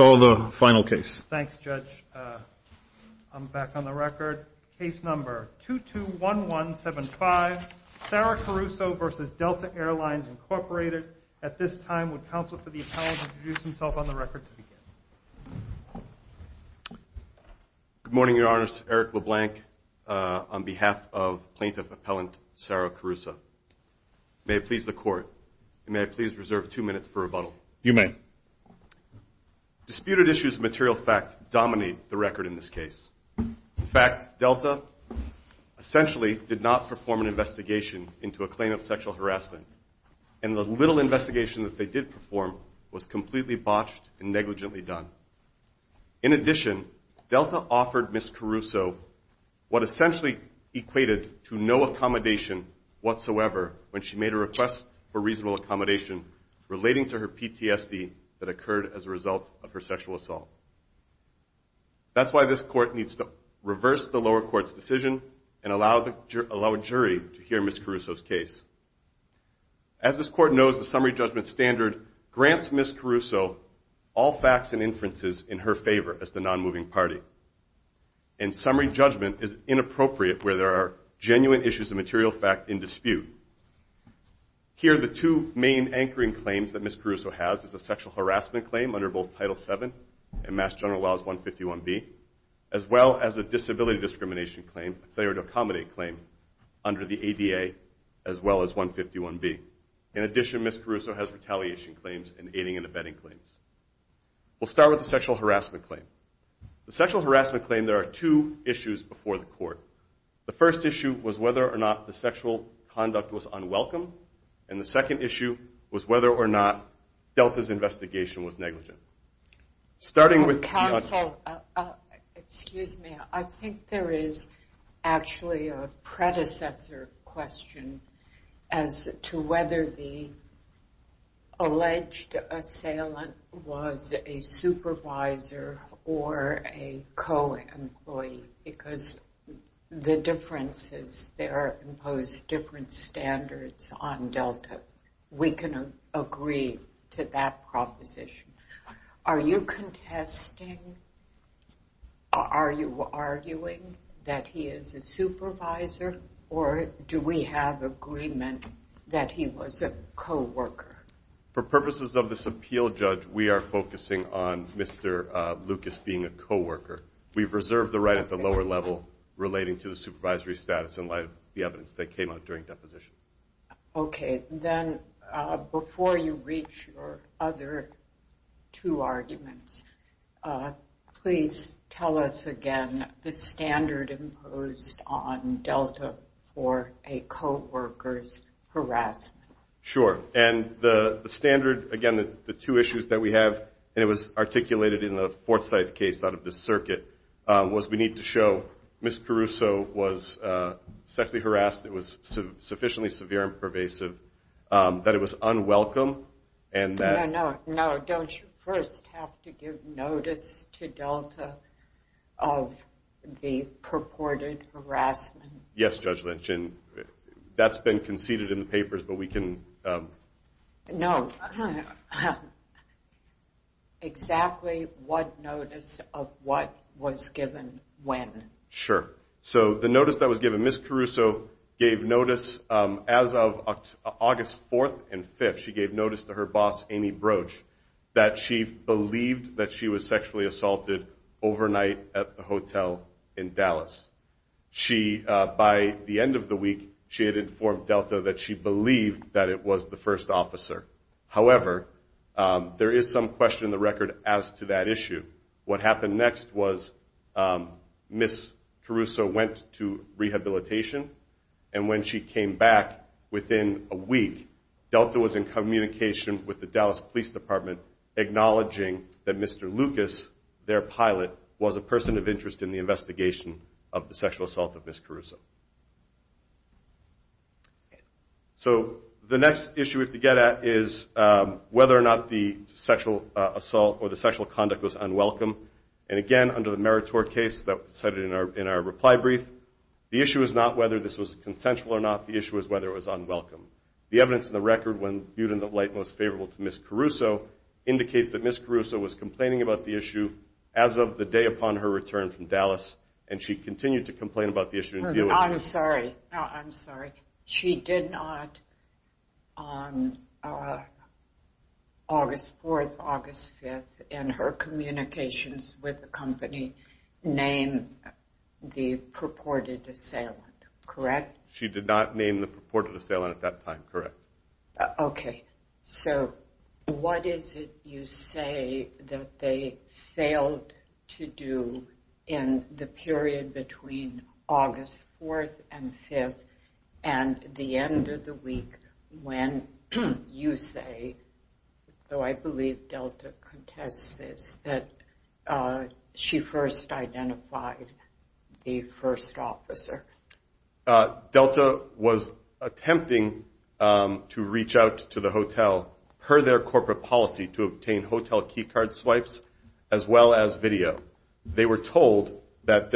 Thanks, Judge. I'm back on the record. Case number 221175, Sara Caruso v. Delta Air Lines, Inc. At this time, would counsel for the appellant introduce himself on the record to begin? Good morning, Your Honor. Eric LeBlanc on behalf of Plaintiff Appellant Sara Caruso. May it please the Court, may I please reserve two minutes for rebuttal? You may. Disputed issues of material facts dominate the record in this case. In fact, Delta essentially did not perform an investigation into a claim of sexual harassment, and the little investigation that they did perform was completely botched and negligently done. In addition, Delta offered Ms. Caruso what essentially equated to no accommodation whatsoever when she made a request for reasonable accommodation relating to her PTSD that occurred as a result of her sexual assault. That's why this Court needs to reverse the lower court's decision and allow a jury to hear Ms. Caruso's case. As this Court knows, the summary judgment standard grants Ms. Caruso all facts and inferences in her favor as the nonmoving party. And summary judgment is inappropriate where there are genuine issues of material fact in dispute. Here, the two main anchoring claims that Ms. Caruso has is a sexual harassment claim under both Title VII and Mass General Laws 151B, as well as a disability discrimination claim, a failure to accommodate claim, under the ADA as well as 151B. In addition, Ms. Caruso has retaliation claims and aiding and abetting claims. We'll start with the sexual harassment claim. The sexual harassment claim, there are two issues before the Court. The first issue was whether or not the sexual conduct was unwelcome, and the second issue was whether or not Delta's investigation was negligent. Counsel, excuse me. I think there is actually a predecessor question as to whether the alleged assailant was a supervisor or a co-employee, because the difference is there are imposed different standards on Delta. We can agree to that proposition. Are you contesting or are you arguing that he is a supervisor, or do we have agreement that he was a co-worker? For purposes of this appeal, Judge, we are focusing on Mr. Lucas being a co-worker. We've reserved the right at the lower level relating to the supervisory status in light of the evidence that came out during deposition. Okay. Then before you reach your other two arguments, please tell us again the standard imposed on Delta for a co-worker's harassment. Sure. And the standard, again, the two issues that we have, and it was articulated in the Fort Scythe case out of this circuit, was we need to show Ms. Caruso was sexually harassed. It was sufficiently severe and pervasive that it was unwelcome. No, no, no. Don't you first have to give notice to Delta of the purported harassment? Yes, Judge Lynch, and that's been conceded in the papers, but we can… No. Exactly what notice of what was given when? Sure. So the notice that was given, Ms. Caruso gave notice as of August 4th and 5th, she gave notice to her boss, Amy Broach, that she believed that she was sexually assaulted overnight at the hotel in Dallas. She, by the end of the week, she had informed Delta that she believed that it was the first officer. However, there is some question in the record as to that issue. What happened next was Ms. Caruso went to rehabilitation, and when she came back within a week, Delta was in communication with the Dallas Police Department acknowledging that Mr. Lucas, their pilot, was a person of interest in the investigation of the sexual assault of Ms. Caruso. So the next issue we have to get at is whether or not the sexual assault or the sexual conduct was unwelcome. And again, under the Meritor case that was cited in our reply brief, the issue is not whether this was consensual or not. The issue is whether it was unwelcome. The evidence in the record, when viewed in the light most favorable to Ms. Caruso, indicates that Ms. Caruso was complaining about the issue as of the day upon her return from Dallas, and she continued to complain about the issue. I'm sorry. I'm sorry. She did not, on August 4th, August 5th, in her communications with the company, name the purported assailant, correct? She did not name the purported assailant at that time, correct. Okay. So what is it you say that they failed to do in the period between August 4th and 5th and the end of the week when you say, though I believe Delta contests this, that she first identified the first officer? Delta was attempting to reach out to the hotel, per their corporate policy, to obtain hotel key card swipes as well as video. They were told that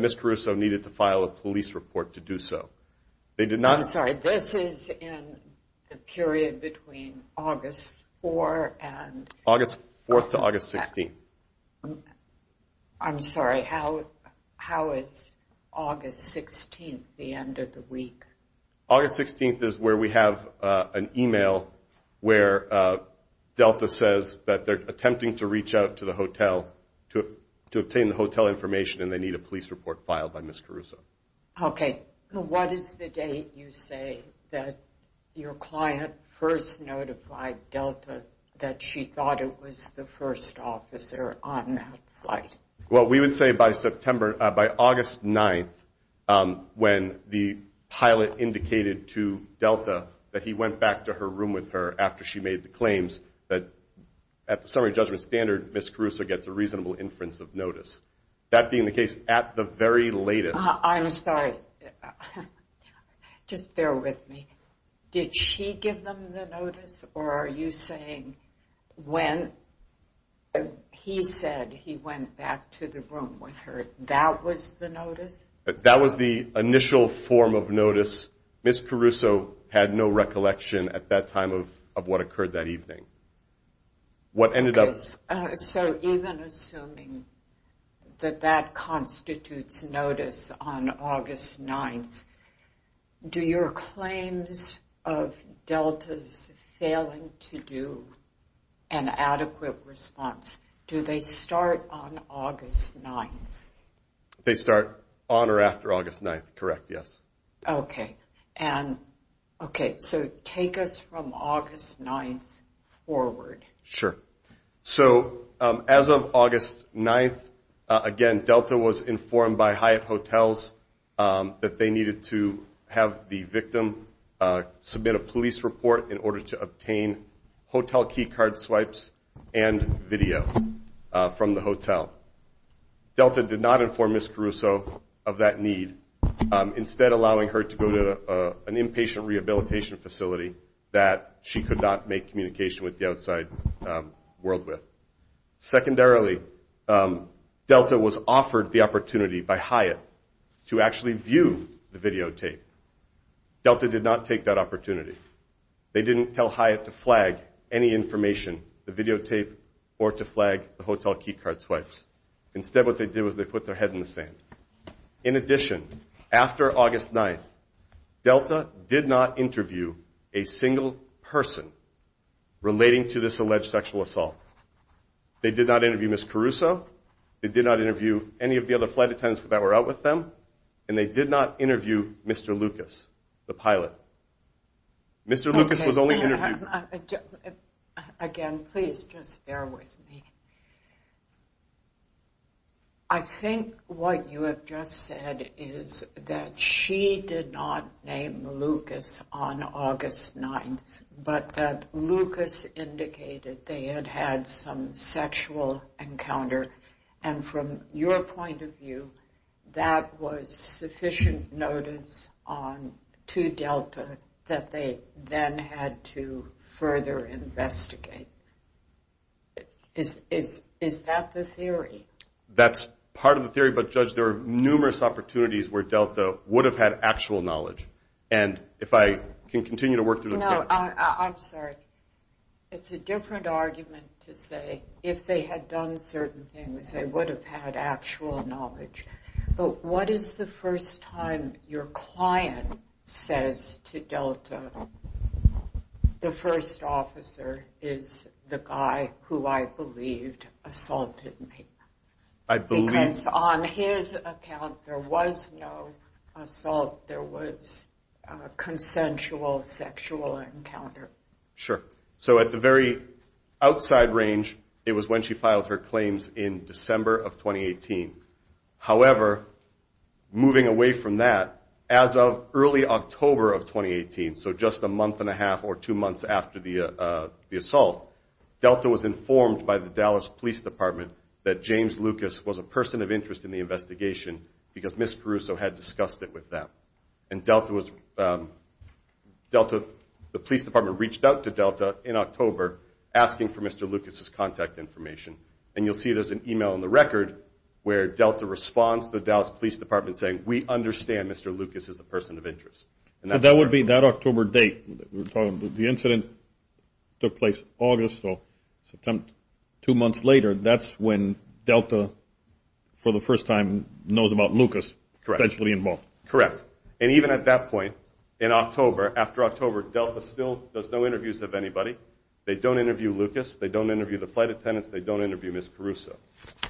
Ms. Caruso needed to file a police report to do so. I'm sorry. This is in the period between August 4th and? August 4th to August 16th. I'm sorry. How is August 16th the end of the week? August 16th is where we have an email where Delta says that they're attempting to reach out to the hotel to obtain the hotel information and they need a police report filed by Ms. Caruso. Okay. What is the date you say that your client first notified Delta that she thought it was the first officer on that flight? Well, we would say by August 9th when the pilot indicated to Delta that he went back to her room with her after she made the claims that, at the summary judgment standard, Ms. Caruso gets a reasonable inference of notice. That being the case, at the very latest. I'm sorry. Just bear with me. Did she give them the notice or are you saying when he said he went back to the room with her, that was the notice? That was the initial form of notice. Ms. Caruso had no recollection at that time of what occurred that evening. So even assuming that that constitutes notice on August 9th, do your claims of Delta's failing to do an adequate response, do they start on August 9th? They start on or after August 9th. Correct, yes. Okay. So take us from August 9th forward. Sure. So as of August 9th, again, Delta was informed by Hyatt Hotels that they needed to have the victim submit a police report in order to obtain hotel key card swipes and video from the hotel. Delta did not inform Ms. Caruso of that need, instead allowing her to go to an inpatient rehabilitation facility that she could not make communication with the outside world with. Secondarily, Delta was offered the opportunity by Hyatt to actually view the videotape. Delta did not take that opportunity. They didn't tell Hyatt to flag any information, the videotape, or to flag the hotel key card swipes. Instead what they did was they put their head in the sand. In addition, after August 9th, Delta did not interview a single person relating to this alleged sexual assault. They did not interview Ms. Caruso. They did not interview any of the other flight attendants that were out with them. And they did not interview Mr. Lucas, the pilot. Mr. Lucas was only interviewed. Again, please just bear with me. I think what you have just said is that she did not name Lucas on August 9th, but that Lucas indicated they had had some sexual encounter. And from your point of view, that was sufficient notice to Delta that they then had to further investigate. Is that the theory? That's part of the theory. But, Judge, there are numerous opportunities where Delta would have had actual knowledge. And if I can continue to work through the question. No, I'm sorry. It's a different argument to say if they had done certain things, they would have had actual knowledge. But what is the first time your client says to Delta, the first officer is the guy who I believed assaulted me? Because on his account, there was no assault. There was a consensual sexual encounter. Sure. So at the very outside range, it was when she filed her claims in December of 2018. However, moving away from that, as of early October of 2018, so just a month and a half or two months after the assault, Delta was informed by the Dallas Police Department that James Lucas was a person of interest in the investigation because Ms. Caruso had discussed it with them. And the police department reached out to Delta in October asking for Mr. Lucas' contact information. And you'll see there's an email in the record where Delta responds to the Dallas Police Department saying, we understand Mr. Lucas is a person of interest. That would be that October date. The incident took place August, so two months later, that's when Delta for the first time knows about Lucas potentially involved. Correct. And even at that point in October, after October, Delta still does no interviews of anybody. They don't interview Lucas. They don't interview the flight attendants. They don't interview Ms. Caruso.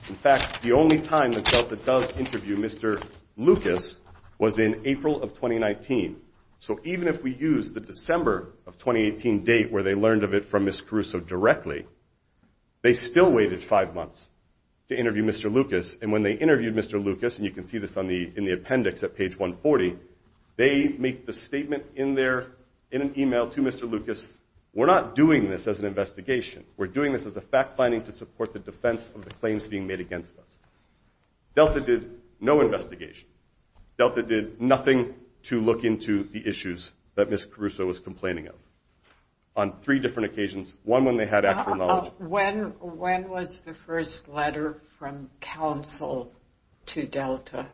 In fact, the only time that Delta does interview Mr. Lucas was in April of 2019. So even if we use the December of 2018 date where they learned of it from Ms. Caruso directly, they still waited five months to interview Mr. Lucas. And when they interviewed Mr. Lucas, and you can see this in the appendix at page 140, they make the statement in an email to Mr. Lucas, we're not doing this as an investigation. We're doing this as a fact finding to support the defense of the claims being made against us. Delta did no investigation. Delta did nothing to look into the issues that Ms. Caruso was complaining of on three different occasions, one when they had actual knowledge. When was the first letter from counsel to Delta?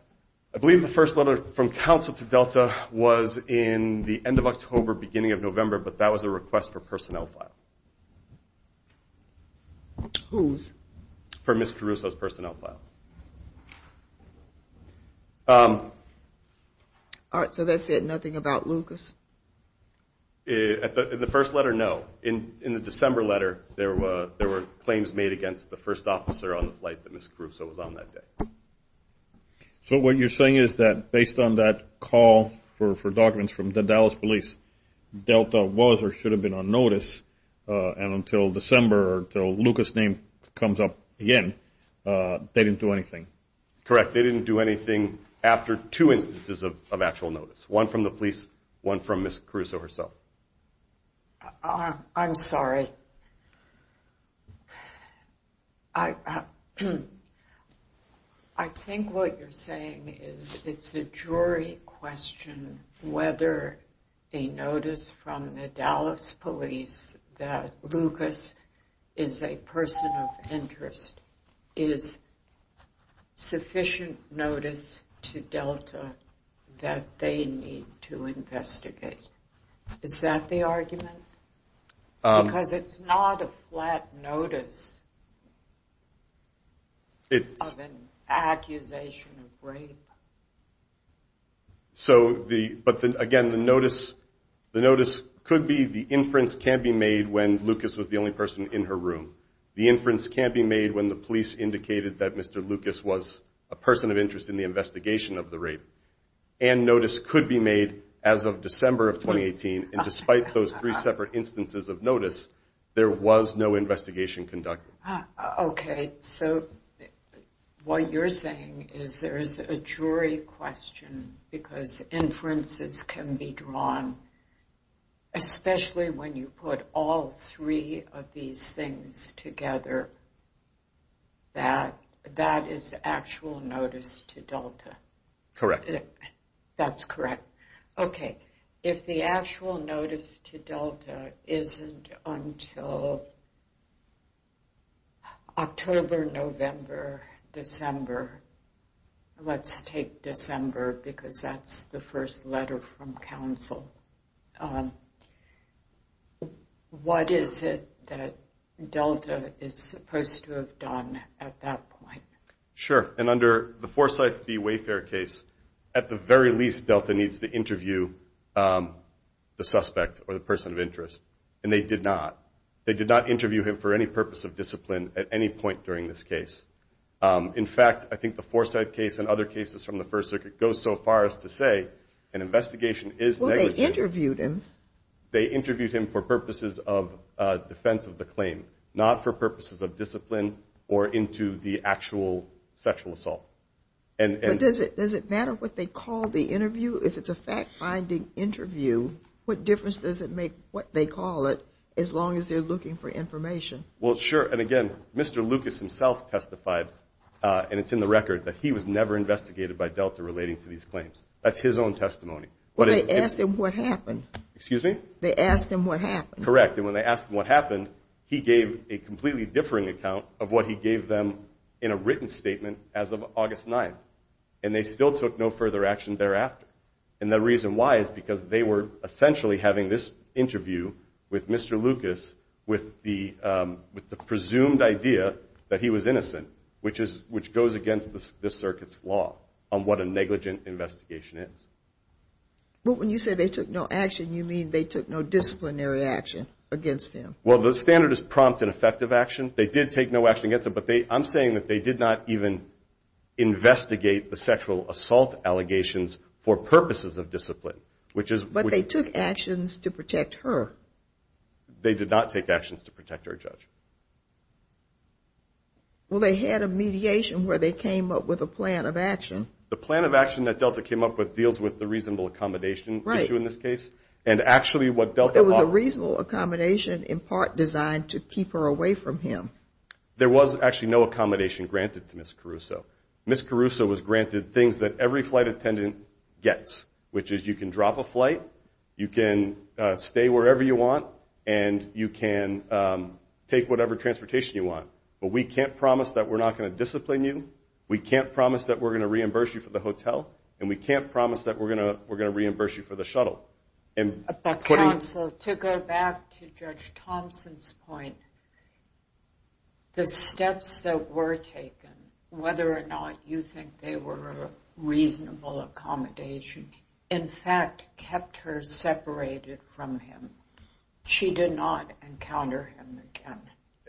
I believe the first letter from counsel to Delta was in the end of October, beginning of November, but that was a request for personnel file. Whose? For Ms. Caruso's personnel file. All right, so that said nothing about Lucas? In the first letter, no. In the December letter, there were claims made against the first officer on the flight that Ms. Caruso was on that day. So what you're saying is that based on that call for documents from the Dallas police, Delta was or should have been on notice, and until December, until Lucas' name comes up again, they didn't do anything? Correct, they didn't do anything after two instances of actual notice, one from the police, one from Ms. Caruso herself. I'm sorry. I think what you're saying is it's a jury question whether a notice from the Dallas police that Lucas is a person of interest is sufficient notice to Delta that they need to investigate. Is that the argument? Because it's not a flat notice of an accusation of rape. But again, the notice could be the inference can be made when Lucas was the only person in her room. The inference can be made when the police indicated that Mr. Lucas was a person of interest in the investigation of the rape. And notice could be made as of December of 2018, and despite those three separate instances of notice, there was no investigation conducted. Okay, so what you're saying is there's a jury question because inferences can be drawn, especially when you put all three of these things together, that that is actual notice to Delta. Correct. That's correct. Okay, if the actual notice to Delta isn't until October, November, December, let's take December because that's the first letter from counsel, what is it that Delta is supposed to have done at that point? Sure, and under the Forsyth v. Wayfair case, at the very least, Delta needs to interview the suspect or the person of interest, and they did not. They did not interview him for any purpose of discipline at any point during this case. In fact, I think the Forsyth case and other cases from the First Circuit goes so far as to say an investigation is negligent. They interviewed him for purposes of defense of the claim, not for purposes of discipline or into the actual sexual assault. But does it matter what they call the interview? If it's a fact-finding interview, what difference does it make what they call it as long as they're looking for information? Well, sure, and again, Mr. Lucas himself testified, and it's in the record, that he was never investigated by Delta relating to these claims. That's his own testimony. Well, they asked him what happened. They asked him what happened. Correct, and when they asked him what happened, he gave a completely differing account of what he gave them in a written statement as of August 9th. And they still took no further action thereafter. And the reason why is because they were essentially having this interview with Mr. Lucas with the presumed idea that he was innocent, which goes against this Circuit's law on what a negligent investigation is. But when you say they took no action, you mean they took no disciplinary action against him. Well, the standard is prompt and effective action. They did take no action against him, but I'm saying that they did not even investigate the sexual assault allegations for purposes of discipline. But they took actions to protect her. They did not take actions to protect her, Judge. Well, they had a mediation where they came up with a plan of action. The plan of action that Delta came up with deals with the reasonable accommodation issue in this case. There was a reasonable accommodation in part designed to keep her away from him. There was actually no accommodation granted to Ms. Caruso. Ms. Caruso was granted things that every flight attendant gets, which is you can drop a flight, you can stay wherever you want, and you can take whatever transportation you want. But we can't promise that we're not going to discipline you, we can't promise that we're going to reimburse you for the hotel, and we can't promise that we're going to reimburse you for the shuttle. Counsel, to go back to Judge Thompson's point, the steps that were taken, whether or not you think they were reasonable accommodation, in fact kept her separated from him. She did not encounter him again.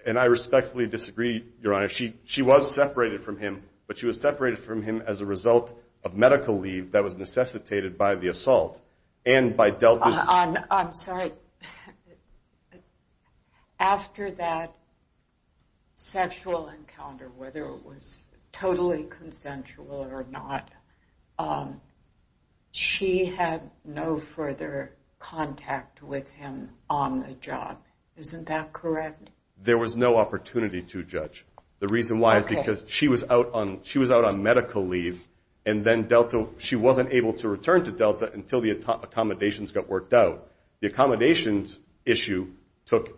And I respectfully disagree, Your Honor. She was separated from him, but she was separated from him as a result of medical leave that was necessitated by the assault. I'm sorry. After that sexual encounter, whether it was totally consensual or not, she had no further contact with him on the job. Isn't that correct? There was no opportunity to, Judge. The reason why is because she was out on medical leave, and then she wasn't able to return to Delta until the accommodations got worked out. The accommodations issue took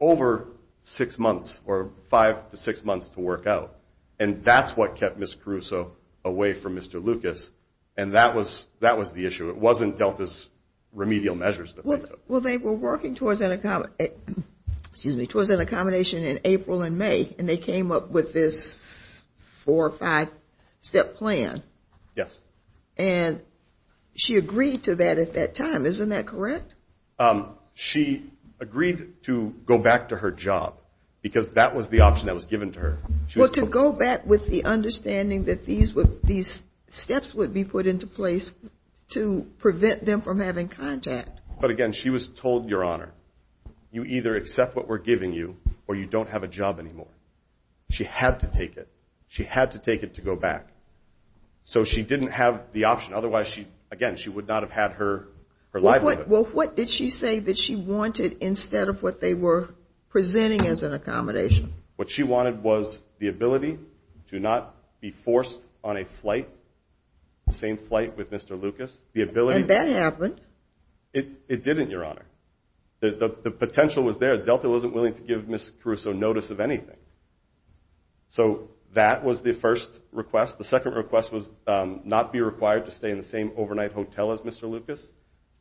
over six months, or five to six months to work out. And that's what kept Ms. Caruso away from Mr. Lucas, and that was the issue. It wasn't Delta's remedial measures. Well, they were working towards an accommodation in April and May, and they came up with this four or five-step plan. Yes. And she agreed to that at that time. Isn't that correct? She agreed to go back to her job, because that was the option that was given to her. But again, she was told, Your Honor, you either accept what we're giving you, or you don't have a job anymore. She had to take it. She had to take it to go back. So she didn't have the option. Otherwise, again, she would not have had her livelihood. Well, what did she say that she wanted instead of what they were presenting as an accommodation? What she wanted was the ability to not be forced on a flight, the same flight with Mr. Lucas. And that happened. It didn't, Your Honor. The potential was there. Delta wasn't willing to give Ms. Caruso notice of anything. So that was the first request. The second request was not be required to stay in the same overnight hotel as Mr. Lucas.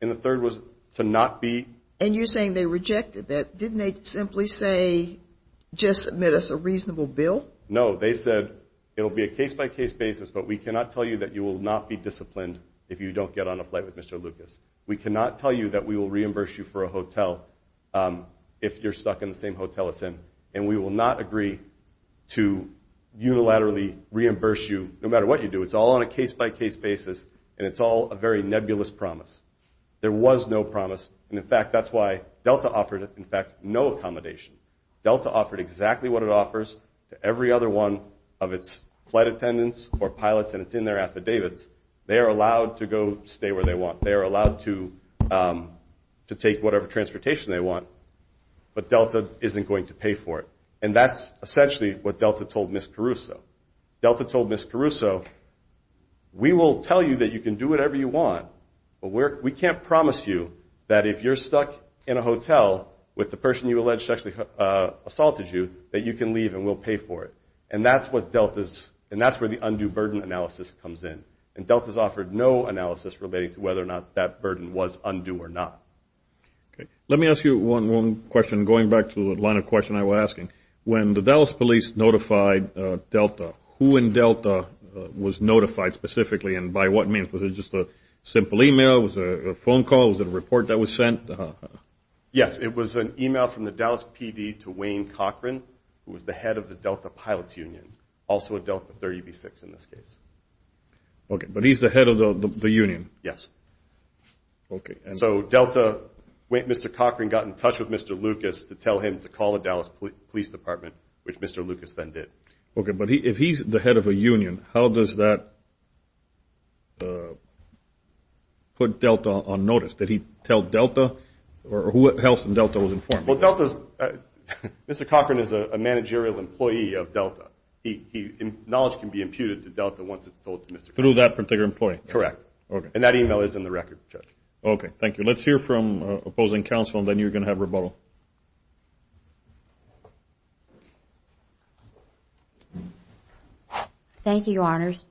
And the third was to not be... We cannot tell you that we will reimburse you for a hotel if you're stuck in the same hotel as him. And we will not agree to unilaterally reimburse you, no matter what you do. It's all on a case-by-case basis, and it's all a very nebulous promise. There was no promise. And in fact, that's why Delta offered, in fact, no accommodation. Delta offered exactly what it offers to every other one of its flight attendants or pilots, and it's in their affidavits. They are allowed to go stay where they want. They are allowed to take whatever transportation they want. But Delta isn't going to pay for it. And that's essentially what Delta told Ms. Caruso. Delta told Ms. Caruso, we will tell you that you can do whatever you want, but we can't promise you that if you're stuck in a hotel with the person you allegedly assaulted you, that you can leave and we'll pay for it. And that's where the undue burden analysis comes in. And Delta's offered no analysis relating to whether or not that burden was undue or not. Let me ask you one question going back to the line of question I was asking. When the Dallas police notified Delta, who in Delta was notified specifically and by what means? Was it just a simple email? Was it a phone call? Was it a report that was sent? Yes, it was an email from the Dallas PD to Wayne Cochran, who was the head of the Delta Pilots Union, also a Delta 30B6 in this case. Okay, but he's the head of the union? Yes. So Delta, Mr. Cochran got in touch with Mr. Lucas to tell him to call the Dallas Police Department, which Mr. Lucas then did. Okay, but if he's the head of a union, how does that put Delta on notice? Did he tell Delta or who else in Delta was informed? Well, Delta's – Mr. Cochran is a managerial employee of Delta. Knowledge can be imputed to Delta once it's told to Mr. Cochran. Through that particular employee? Correct. And that email is in the record, Judge. Okay, thank you. Let's hear from opposing counsel and then you're going to have rebuttal. Thank you, Your Honors.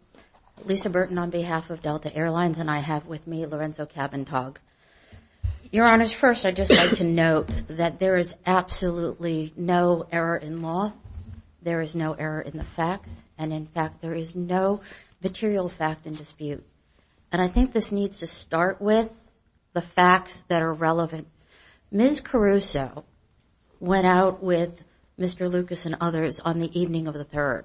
Lisa Burton on behalf of Delta Airlines and I have with me Lorenzo Cavantag. Your Honors, first I'd just like to note that there is absolutely no error in law, there is no error in the facts, and in fact there is no material fact in dispute. And I think this needs to start with the facts that are relevant. Ms. Caruso went out with Mr. Lucas and others on the evening of the 3rd.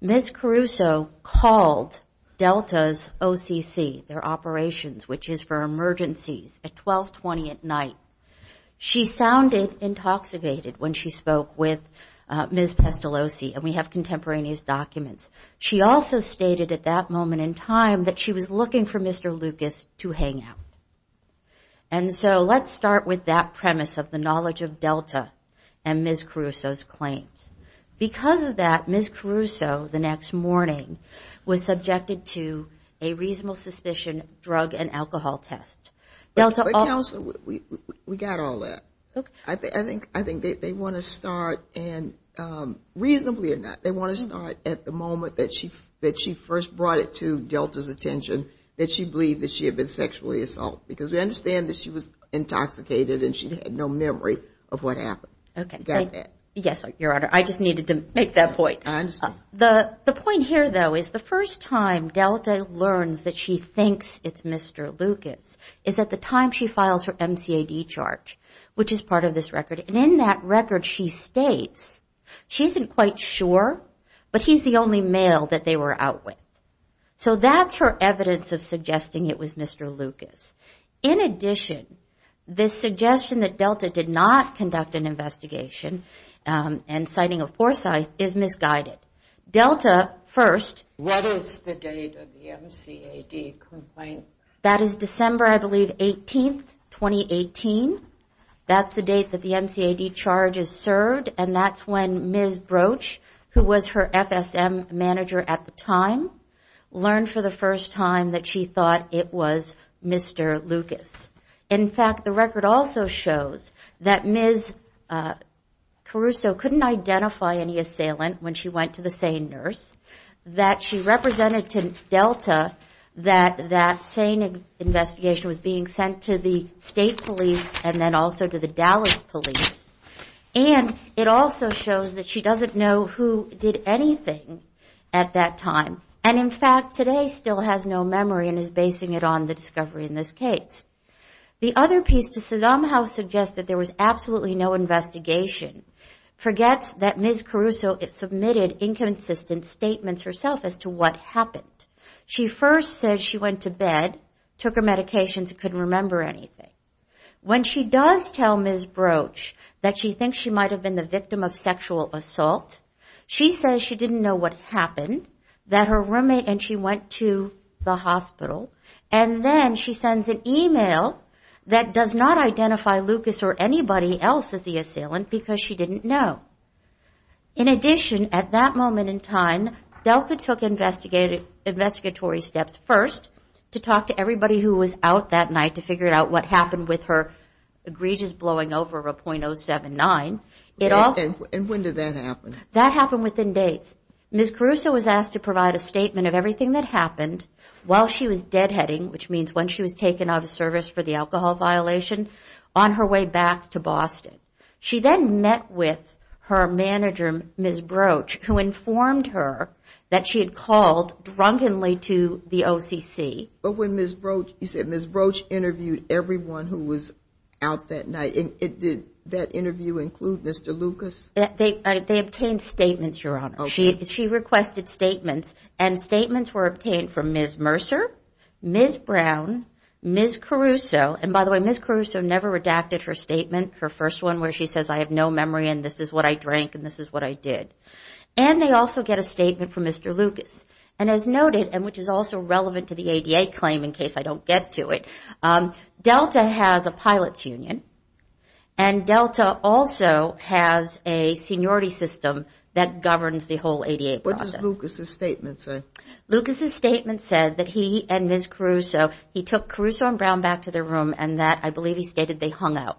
Ms. Caruso called Delta's OCC, their operations, which is for emergencies, at 1220 at night. She sounded intoxicated when she spoke with Ms. Pestolosi, and we have contemporaneous documents. She also stated at that moment in time that she was looking for Mr. Lucas to hang out. And so let's start with that premise of the knowledge of Delta and Ms. Caruso's claims. Because of that, Ms. Caruso the next morning was subjected to a reasonable suspicion drug and alcohol test. But counsel, we got all that. I think they want to start, and reasonably or not, they want to start at the moment that she first brought it to Delta's attention that she believed that she had been sexually assaulted. Because we understand that she was intoxicated and she had no memory of what happened. Yes, Your Honor, I just needed to make that point. The point here, though, is the first time Delta learns that she thinks it's Mr. Lucas is at the time she files her MCAD charge, which is part of this record. And in that record she states she isn't quite sure, but he's the only male that they were out with. So that's her evidence of suggesting it was Mr. Lucas. In addition, the suggestion that Delta did not conduct an investigation and citing a foresight is misguided. Delta, first... What is the date of the MCAD complaint? That is December, I believe, 18th, 2018. That's the date that the MCAD charge is served. And that's when Ms. Broach, who was her FSM manager at the time, learned for the first time that she thought it was Mr. Lucas. In fact, the record also shows that Ms. Caruso couldn't identify any assailant when she went to the SANE nurse, that she represented to Delta that that SANE investigation was being sent to the state police and then also to the Dallas police. And it also shows that she doesn't know who did anything at that time. And in fact, today still has no memory and is basing it on the discovery in this case. The other piece, to somehow suggest that there was absolutely no investigation, forgets that Ms. Caruso submitted inconsistent statements herself as to what happened. She first says she went to bed, took her medications, couldn't remember anything. When she does tell Ms. Broach that she thinks she might have been the victim of sexual assault, she says she didn't know what happened, that her roommate and she went to the hospital. And then she sends an email that does not identify Lucas or anybody else as the assailant because she didn't know. In addition, at that moment in time, Delta took investigatory steps first to talk to everybody who was out that night to figure out what happened. And what happened with her egregious blowing over of a .079. And when did that happen? That happened within days. Ms. Caruso was asked to provide a statement of everything that happened while she was deadheading, which means when she was taken out of service for the alcohol violation, on her way back to Boston. She then met with her manager, Ms. Broach, who informed her that she had called drunkenly to the OCC. But when Ms. Broach, you said Ms. Broach interviewed everyone who was out that night. Did that interview include Mr. Lucas? They obtained statements, Your Honor. She requested statements, and statements were obtained from Ms. Mercer, Ms. Brown, Ms. Caruso. And by the way, Ms. Caruso never redacted her statement, her first one, where she says, I have no memory and this is what I drank and this is what I did. And they also get a statement from Mr. Lucas. And as noted, and which is also relevant to the ADA claim in case I don't get to it, Delta has a pilot's union and Delta also has a seniority system that governs the whole ADA process. What does Lucas' statement say? Lucas' statement said that he and Ms. Caruso, he took Caruso and Brown back to their room and that, I believe he stated, they hung out.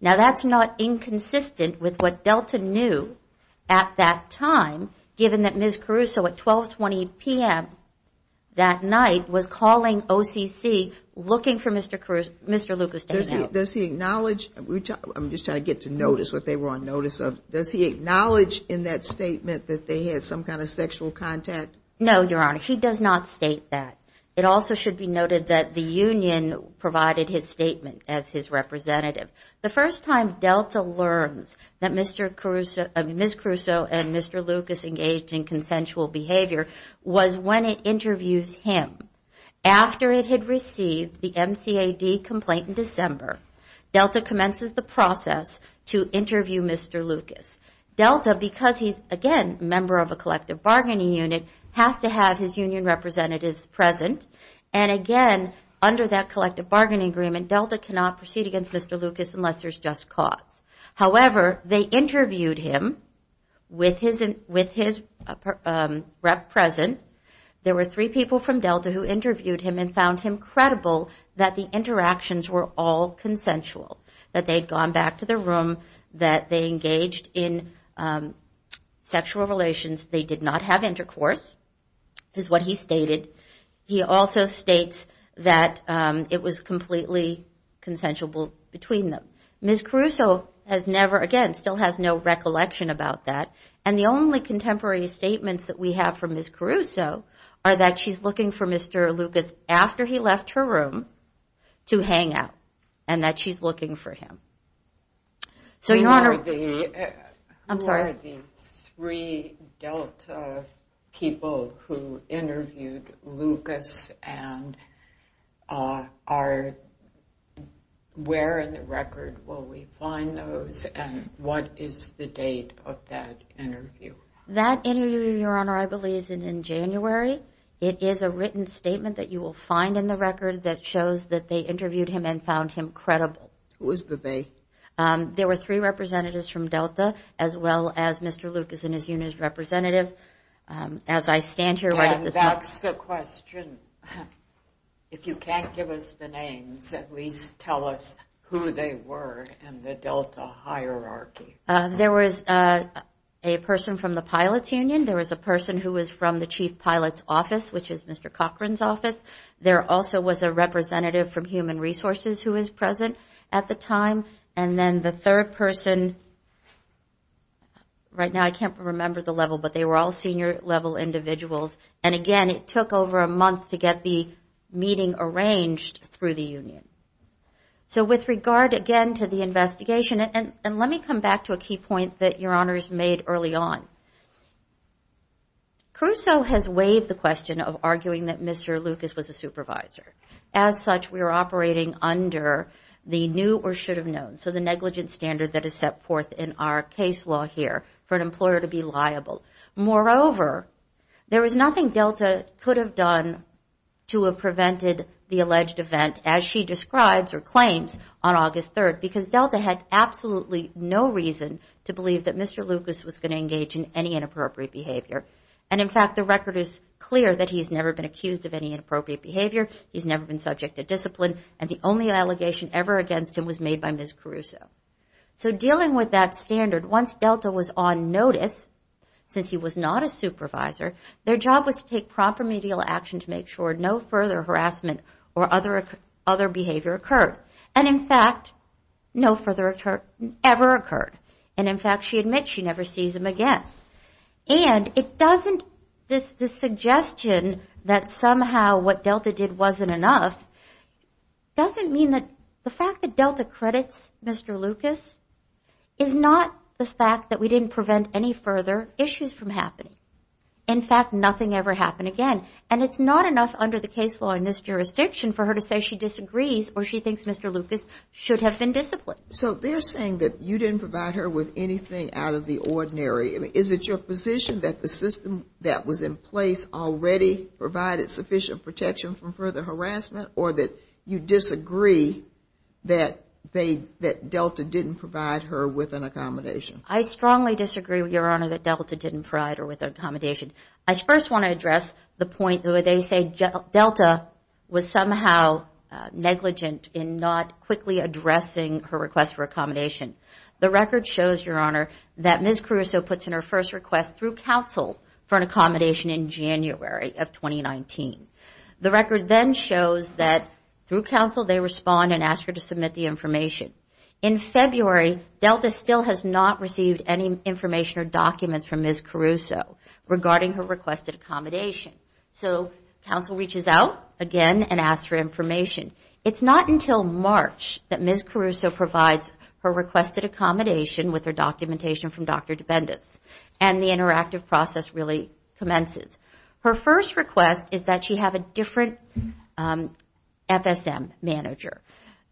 Now that's not inconsistent with what Delta knew at that time, given that Ms. Caruso at 1220 p.m. that night was calling OCC looking for Mr. Lucas to hang out. Does he acknowledge, I'm just trying to get to notice what they were on notice of, does he acknowledge in that statement that they had some kind of sexual contact? No, Your Honor, he does not state that. The first time Delta learns that Ms. Caruso and Mr. Lucas engaged in consensual behavior was when it interviews him. After it had received the MCAD complaint in December, Delta commences the process to interview Mr. Lucas. Delta, because he's, again, a member of a collective bargaining unit, has to have his union representatives present. And again, under that collective bargaining agreement, Delta cannot proceed against Mr. Lucas unless there's just cause. However, they interviewed him with his rep present. There were three people from Delta who interviewed him and found him credible that the interactions were all consensual. That they had gone back to their room, that they engaged in sexual relations. They did not have intercourse, is what he stated. He also states that it was completely consensual between them. Ms. Caruso, again, still has no recollection about that. And the only contemporary statements that we have from Ms. Caruso are that she's looking for Mr. Lucas after he left her room to hang out. And that she's looking for him. Who are the three Delta people who interviewed Lucas? And where in the record will we find those? And what is the date of that interview? That interview, Your Honor, I believe is in January. It is a written statement that you will find in the record that shows that they interviewed him and found him credible. Who is the they? There were three representatives from Delta, as well as Mr. Lucas and his union representative. And that's the question. If you can't give us the names, at least tell us who they were in the Delta hierarchy. There was a person from the pilot's union. There was a person who was from the chief pilot's office, which is Mr. Cochran's office. There also was a representative from human resources who was present at the time. And then the third person, right now I can't remember the level, but they were all senior level individuals. And again, it took over a month to get the meeting arranged through the union. So with regard, again, to the investigation, and let me come back to a key point that Your Honor has made early on. Caruso has waived the question of arguing that Mr. Lucas was a supervisor. As such, we are operating under the new or should have known. So the negligence standard that is set forth in our case law here for an employer to be liable. Moreover, there is nothing Delta could have done to have prevented the alleged event as she describes or claims on August 3rd. Because Delta had absolutely no reason to believe that Mr. Lucas was going to engage in any inappropriate behavior. And in fact, the record is clear that he's never been accused of any inappropriate behavior. He's never been subject to discipline, and the only allegation ever against him was made by Ms. Caruso. So dealing with that standard, once Delta was on notice, since he was not a supervisor, their job was to take proper medial action to make sure no further harassment or other behavior occurred. And in fact, no further ever occurred. And in fact, she admits she never sees him again. And the suggestion that somehow what Delta did wasn't enough doesn't mean that the fact that Delta credits Mr. Lucas is not the fact that we didn't prevent any further issues from happening. In fact, nothing ever happened again. And it's not enough under the case law in this jurisdiction for her to say she disagrees or she thinks Mr. Lucas should have been disciplined. So they're saying that you didn't provide her with anything out of the ordinary. Is it your position that the system that was in place already provided sufficient protection from further harassment, or that you disagree that Delta didn't provide her with an accommodation? I strongly disagree, Your Honor, that Delta didn't provide her with an accommodation. I first want to address the point where they say Delta was somehow negligent in not quickly addressing her request for accommodation. The record shows, Your Honor, that Ms. Caruso puts in her first request through counsel for an accommodation in January of 2019. The record then shows that through counsel they respond and ask her to submit the information. In February, Delta still has not received any information or documents from Ms. Caruso regarding her requested accommodation. So counsel reaches out again and asks for information. And the interactive process really commences. Her first request is that she have a different FSM manager.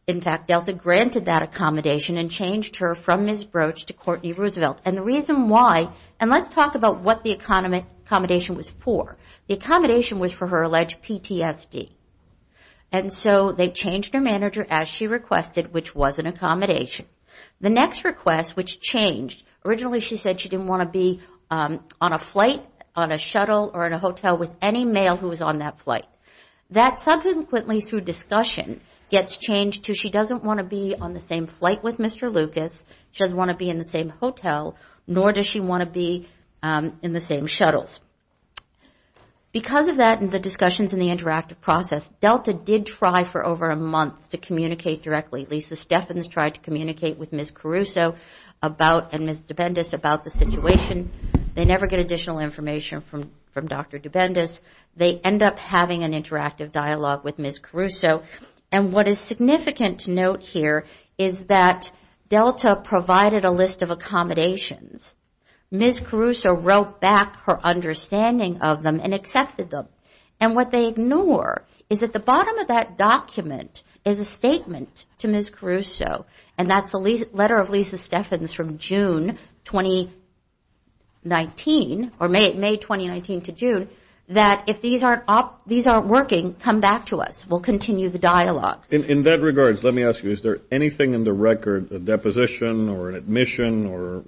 In fact, Delta granted that accommodation and changed her from Ms. Broach to Courtney Roosevelt. And the reason why, and let's talk about what the accommodation was for. The accommodation was for her alleged PTSD, and so they changed her manager as she requested, which was an accommodation. The next request, which changed, originally she said she didn't want to be on a flight, on a shuttle, or in a hotel with any male who was on that flight. That subsequently, through discussion, gets changed to she doesn't want to be on the same flight with Mr. Lucas. She doesn't want to be in the same hotel, nor does she want to be in the same shuttles. Because of that and the discussions in the interactive process, Delta did try for over a month to communicate directly. Lisa Steffens tried to communicate with Ms. Caruso and Ms. Dubendis about the situation. They never get additional information from Dr. Dubendis. They end up having an interactive dialogue with Ms. Caruso. And what is significant to note here is that Delta provided a list of accommodations. Ms. Caruso wrote back her understanding of them and accepted them. And what they ignore is at the bottom of that document is a statement to Ms. Caruso. And that's the letter of Lisa Steffens from June 2019, or May 2019 to June, that if these aren't working, come back to us. We'll continue the dialogue. In that regards, let me ask you, is there anything in the record, a deposition or an admission or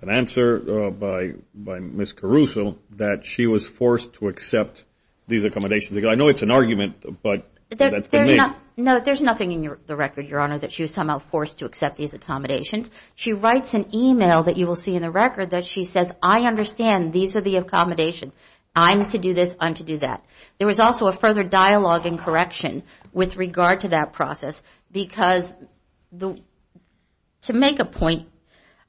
an answer by Ms. Caruso that she was forced to accept these accommodations? I know it's an argument, but that's beneath. No, there's nothing in the record, Your Honor, that she was somehow forced to accept these accommodations. She writes an email that you will see in the record that she says, I understand, these are the accommodations. I'm to do this, I'm to do that. There was also a further dialogue and correction with regard to that process, because to make a point,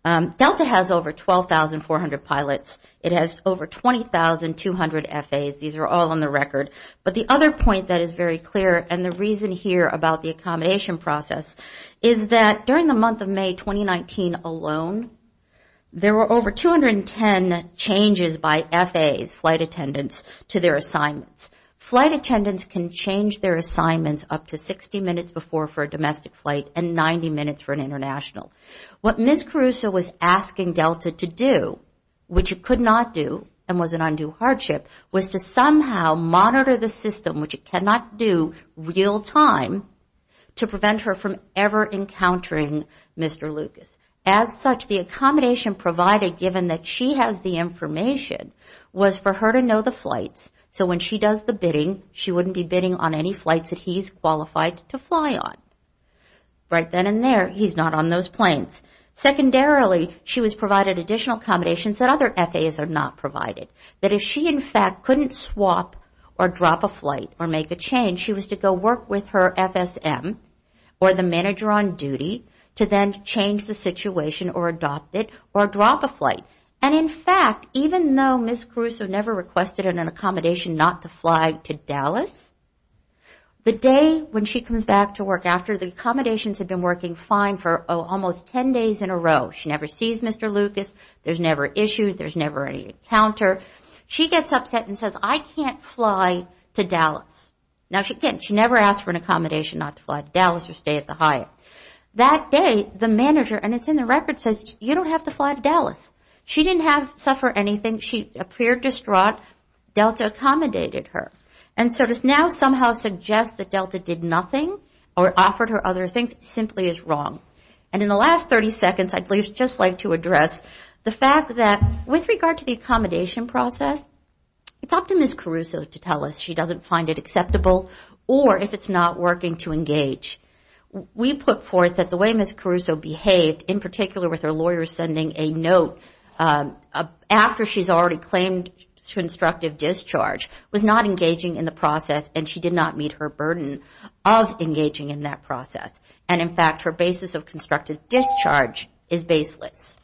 Delta has over 12,400 pilots. It has over 20,200 FAs. These are all on the record. But the other point that is very clear, and the reason here about the accommodation process, is that during the month of May 2019 alone, there were over 210 changes by FAs, flight attendants, to their assignments. Flight attendants can change their assignments up to 60 minutes before for a domestic flight and 90 minutes for an international. What Ms. Caruso was asking Delta to do, which it could not do, and was an undue hardship, was to say, I'm to do this, I'm to do that. To somehow monitor the system, which it cannot do real time, to prevent her from ever encountering Mr. Lucas. As such, the accommodation provided, given that she has the information, was for her to know the flights. So when she does the bidding, she wouldn't be bidding on any flights that he's qualified to fly on. Right then and there, he's not on those planes. Secondarily, she was provided additional accommodations that other FAs are not provided. That if she, in fact, couldn't swap or drop a flight, or make a change, she was to go work with her FSM, or the manager on duty, to then change the situation, or adopt it, or drop a flight. And in fact, even though Ms. Caruso never requested an accommodation not to fly to Dallas, the day when she comes back to work after, the accommodations had been working fine for almost 10 years. 10 days in a row, she never sees Mr. Lucas, there's never issues, there's never any encounter. She gets upset and says, I can't fly to Dallas. Now again, she never asked for an accommodation not to fly to Dallas or stay at the Hyatt. That day, the manager, and it's in the record, says, you don't have to fly to Dallas. She didn't suffer anything, she appeared distraught, Delta accommodated her. And so to now somehow suggest that Delta did nothing, or offered her other things, simply is wrong. And in the last 30 seconds, I'd at least just like to address the fact that with regard to the accommodation process, it's up to Ms. Caruso to tell us. She doesn't find it acceptable, or if it's not working, to engage. We put forth that the way Ms. Caruso behaved, in particular with her lawyer sending a note after she's already claimed constructive discharge, was not engaging in the process, and she did not meet her burden of engaging in that process. And in fact, her basis of constructive discharge is baseless.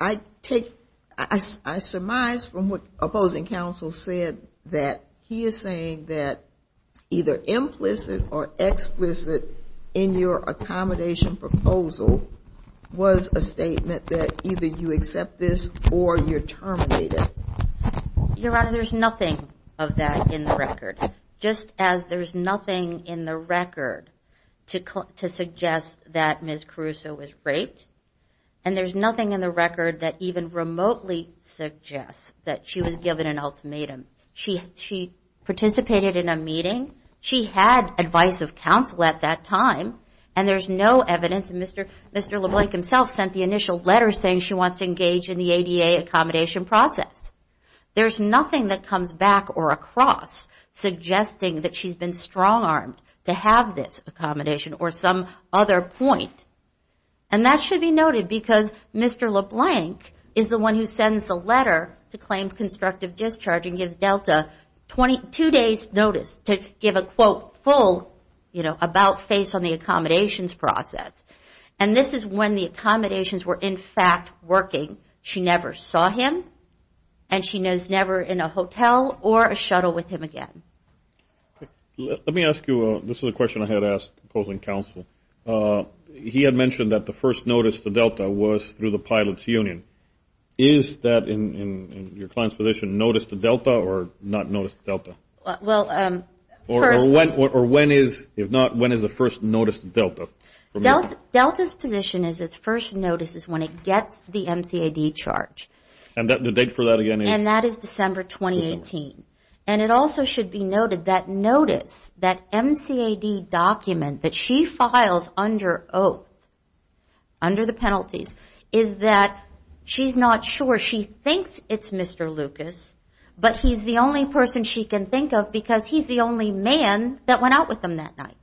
I take, I surmise from what opposing counsel said, that he is saying that either she's not engaging in the process, or she's not engaging in the process. And that either implicit or explicit in your accommodation proposal was a statement that either you accept this, or you're terminated. Your Honor, there's nothing of that in the record. Just as there's nothing in the record to suggest that Ms. Caruso was raped, and there's nothing in the record that even remotely suggests that she was given an ultimatum. She participated in a meeting, she had advice of counsel at that time, and there's no evidence. Mr. LeBlanc himself sent the initial letter saying she wants to engage in the ADA accommodation process. There's nothing that comes back or across suggesting that she's been strong-armed to have this accommodation, or some other point. And that should be noted, because Mr. LeBlanc is the one who sends the letter to claim constructive discharge, and gives Delta 22 days' notice to give a, quote, full, you know, about face on the accommodations process. And this is when the accommodations were, in fact, working. She never saw him, and she was never in a hotel or a shuttle with him again. Let me ask you, this is a question I had asked the opposing counsel. He had mentioned that the first notice to Delta was through the pilots union. Is that, in your client's position, notice to Delta, or not notice to Delta? Or when is, if not, when is the first notice to Delta? Delta's position is its first notice is when it gets the MCAD charge. And the date for that again is? And that is December 2018. And it also should be noted that notice, that MCAD document that she files under oath, under the penalties, is that she's not sure. She thinks it's Mr. Lucas, but he's the only person she can think of because he's the only man that went out with him that night.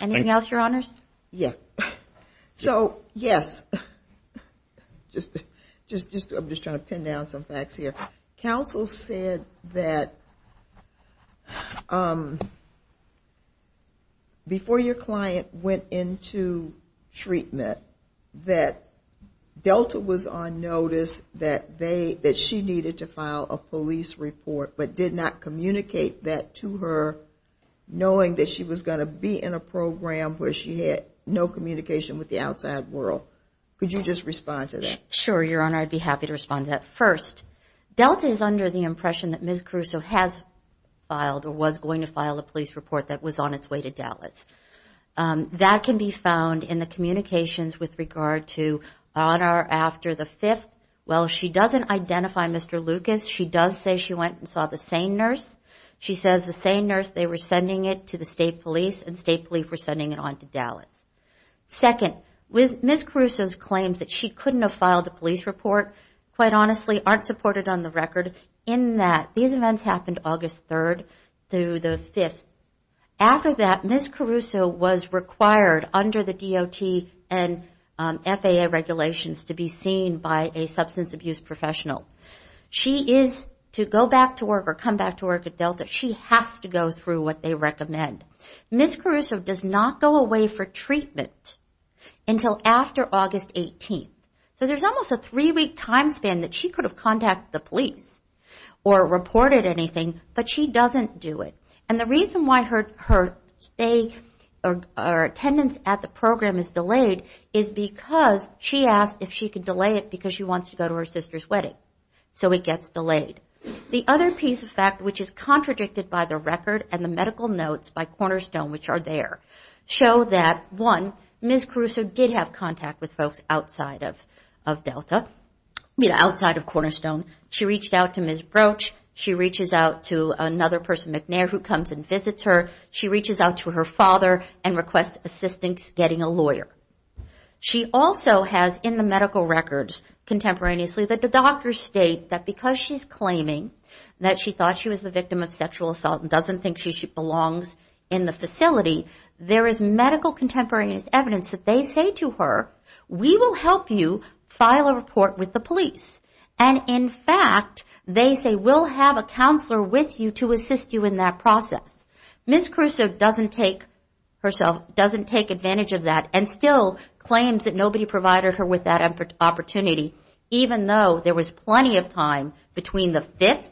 Anything else, Your Honors? So, yes. I'm just trying to pin down some facts here. Counsel said that before your client went into treatment, that Delta was on notice that she needed to file a police report, but did not communicate that to her knowing that she was going to be charged. And that she was going to be in a program where she had no communication with the outside world. Could you just respond to that? Sure, Your Honor. I'd be happy to respond to that. First, Delta is under the impression that Ms. Caruso has filed or was going to file a police report that was on its way to Dallas. That can be found in the communications with regard to honor after the 5th. Well, she doesn't identify Mr. Lucas. She does say she went and saw the SANE nurse. She says the SANE nurse, they were sending it to the state police, and state police were sending it on to Dallas. Second, Ms. Caruso's claims that she couldn't have filed a police report, quite honestly, aren't supported on the record in that these events happened August 3rd through the 5th. After that, Ms. Caruso was required under the DOT and FAA regulations to be seen by a SANE nurse. She is to go back to work or come back to work at Delta. She has to go through what they recommend. Ms. Caruso does not go away for treatment until after August 18th. So there's almost a three-week time span that she could have contacted the police or reported anything, but she doesn't do it. And the reason why her stay or attendance at the program is delayed is because she asked if she could delay it because she wants to do it. She wants to go to her sister's wedding, so it gets delayed. The other piece of fact, which is contradicted by the record and the medical notes by Cornerstone, which are there, show that, one, Ms. Caruso did have contact with folks outside of Delta, outside of Cornerstone. She reached out to Ms. Broach. She reaches out to another person, McNair, who comes and visits her. She reaches out to her father and requests assistance getting a lawyer. She also has in the medical records contemporaneously that the doctors state that because she's claiming that she thought she was the victim of sexual assault and doesn't think she belongs in the facility, there is medical contemporaneous evidence that they say to her, we will help you file a report with the police. And in fact, they say we'll have a counselor with you to assist you in that process. Ms. Caruso doesn't take herself, doesn't take advantage of that and still claims that nobody provided her with that opportunity, even though there was plenty of time between the 5th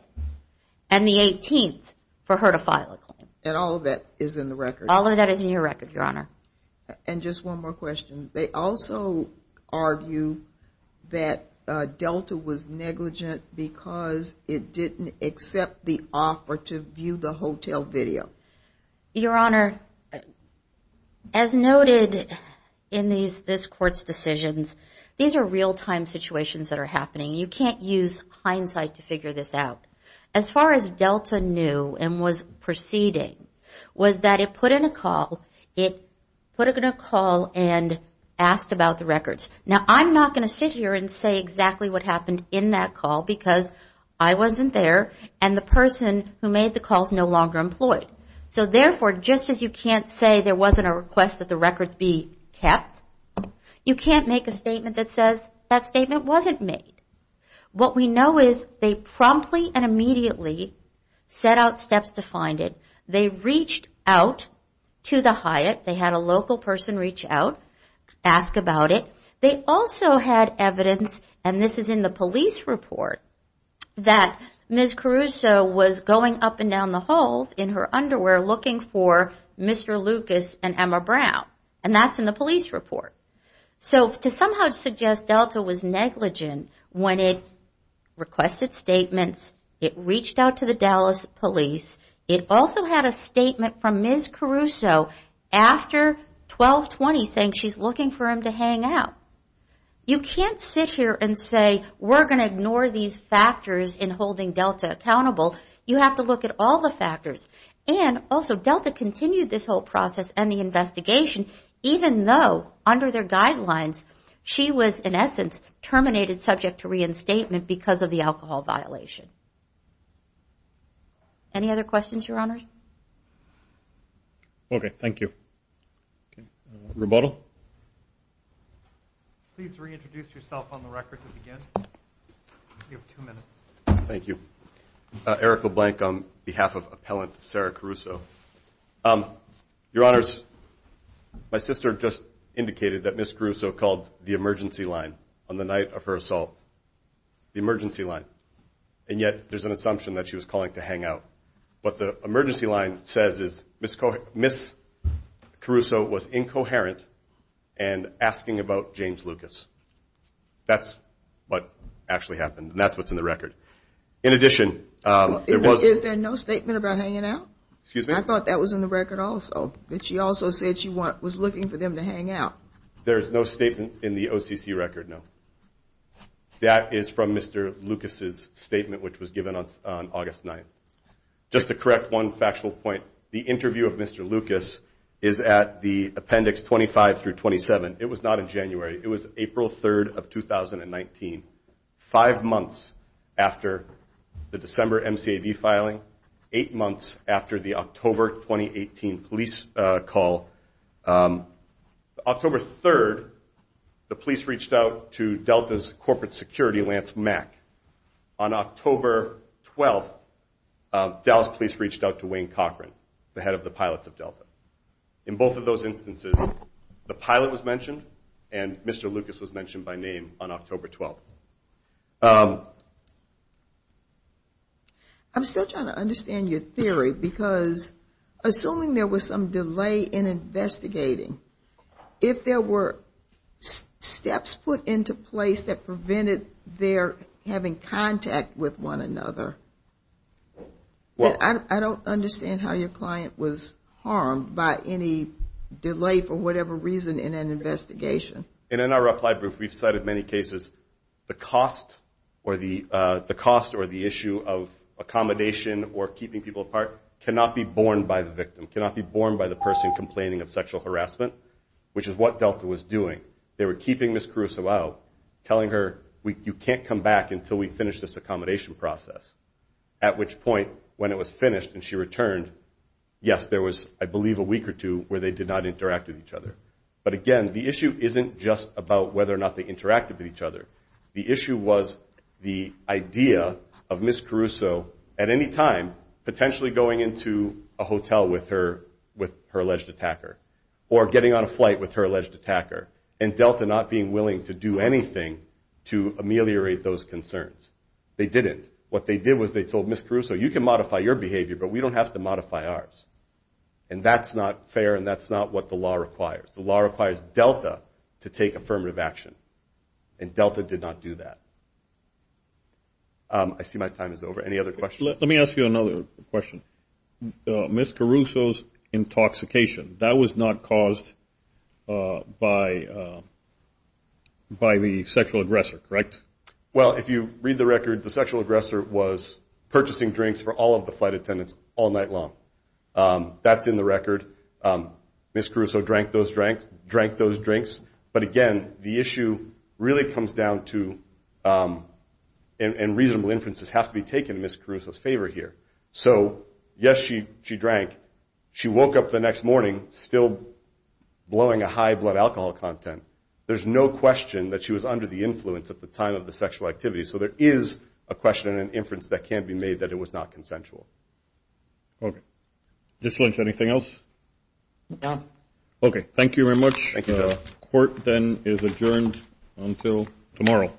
and the 18th for her to file a claim. And all of that is in the record. All of that is in your record, Your Honor. And just one more question. They also argue that Delta was negligent because it didn't accept the offer to view the hotel video. Your Honor, as noted in this Court's decisions, these are real-time situations that are happening. You can't use hindsight to figure this out. As far as Delta knew and was proceeding, was that it put in a call and asked about the records. Now, I'm not going to sit here and say exactly what happened in that call because I wasn't there and the person who made the call is no longer employed. So therefore, just as you can't say there wasn't a request that the records be kept, you can't make a statement that says that statement wasn't made. What we know is they promptly and immediately set out steps to find it. They reached out to the Hyatt. They had a local person reach out, ask about it. They also had evidence, and this is in the police report, that Ms. Caruso was going up and down the halls in her underwear looking for Mr. Lucas and Emma Brown. And that's in the police report. So to somehow suggest Delta was negligent when it requested statements, it reached out to the Dallas police. It also had a statement from Ms. Caruso after 12-20 saying she's looking for him to hang out. You can't sit here and say we're going to ignore these factors in holding Delta accountable. You have to look at all the factors. And that's why we're not going to say she was negligent, even though under their guidelines, she was in essence terminated subject to reinstatement because of the alcohol violation. Any other questions, Your Honor? Rebuttal? Eric LeBlanc on behalf of appellant Sarah Caruso. My sister just indicated that Ms. Caruso called the emergency line on the night of her assault. The emergency line. And yet there's an assumption that she was calling to hang out. What the emergency line says is Ms. Caruso was incoherent and asking about James Lucas. That's what actually happened, and that's what's in the record. Is there no statement about hanging out? I thought that was in the record also, that she also said she was looking for them to hang out. There's no statement in the OCC record, no. That is from Mr. Lucas's statement, which was given on August 9th. Just to correct one factual point, the interview of Mr. Lucas is at the appendix 25-27. It was not in January. It was April 3rd of 2019, five months after the December MCAD filing, eight months after the October 2018 police call. October 3rd, the police reached out to Delta's corporate security, Lance Mack. On October 12th, Dallas police reached out to Wayne Cochran, the head of the pilots of Delta. In both of those instances, the pilot was mentioned and Mr. Lucas was mentioned by name on October 12th. I'm still trying to understand your theory, because assuming there was some delay in investigating, if there were steps put into place that prevented their having contact with one another, I don't understand how your client was harmed by any delay for whatever reason in an investigation. In our reply brief, we've cited many cases. The cost or the issue of accommodation or keeping people apart cannot be borne by the victim, cannot be borne by the person complaining of sexual harassment, which is what Delta was doing. They were keeping Ms. Caruso out, telling her, you can't come back until we finish this accommodation process. At which point, when it was finished and she returned, yes, there was, I believe, a week or two where they did not interact with each other. But again, the issue isn't just about whether or not they interacted with each other. The issue was the idea of Ms. Caruso at any time potentially going into a hotel with her alleged attacker or getting on a flight with her alleged attacker and Delta not being willing to do anything to ameliorate those concerns. They didn't. What they did was they told Ms. Caruso, you can modify your behavior, but we don't have to modify ours. And that's not fair and that's not what the law requires. The law requires Delta to take affirmative action. And Delta did not do that. I see my time is over. Any other questions? Let me ask you another question. Ms. Caruso's intoxication, that was not caused by the sexual aggressor, correct? Well, if you read the record, the sexual aggressor was purchasing drinks for all of the flight attendants all night long. That's in the record. Ms. Caruso drank those drinks. But again, the issue really comes down to and reasonable inferences have to be taken in Ms. Caruso's favor here. So yes, she drank. She woke up the next morning still blowing a high blood alcohol content. There's no question that she was under the influence at the time of the sexual activity. So there is a question and inference that can be made that it was not consensual. Okay. Dyslynch, anything else? No. Okay. Thank you very much. Court then is adjourned until tomorrow.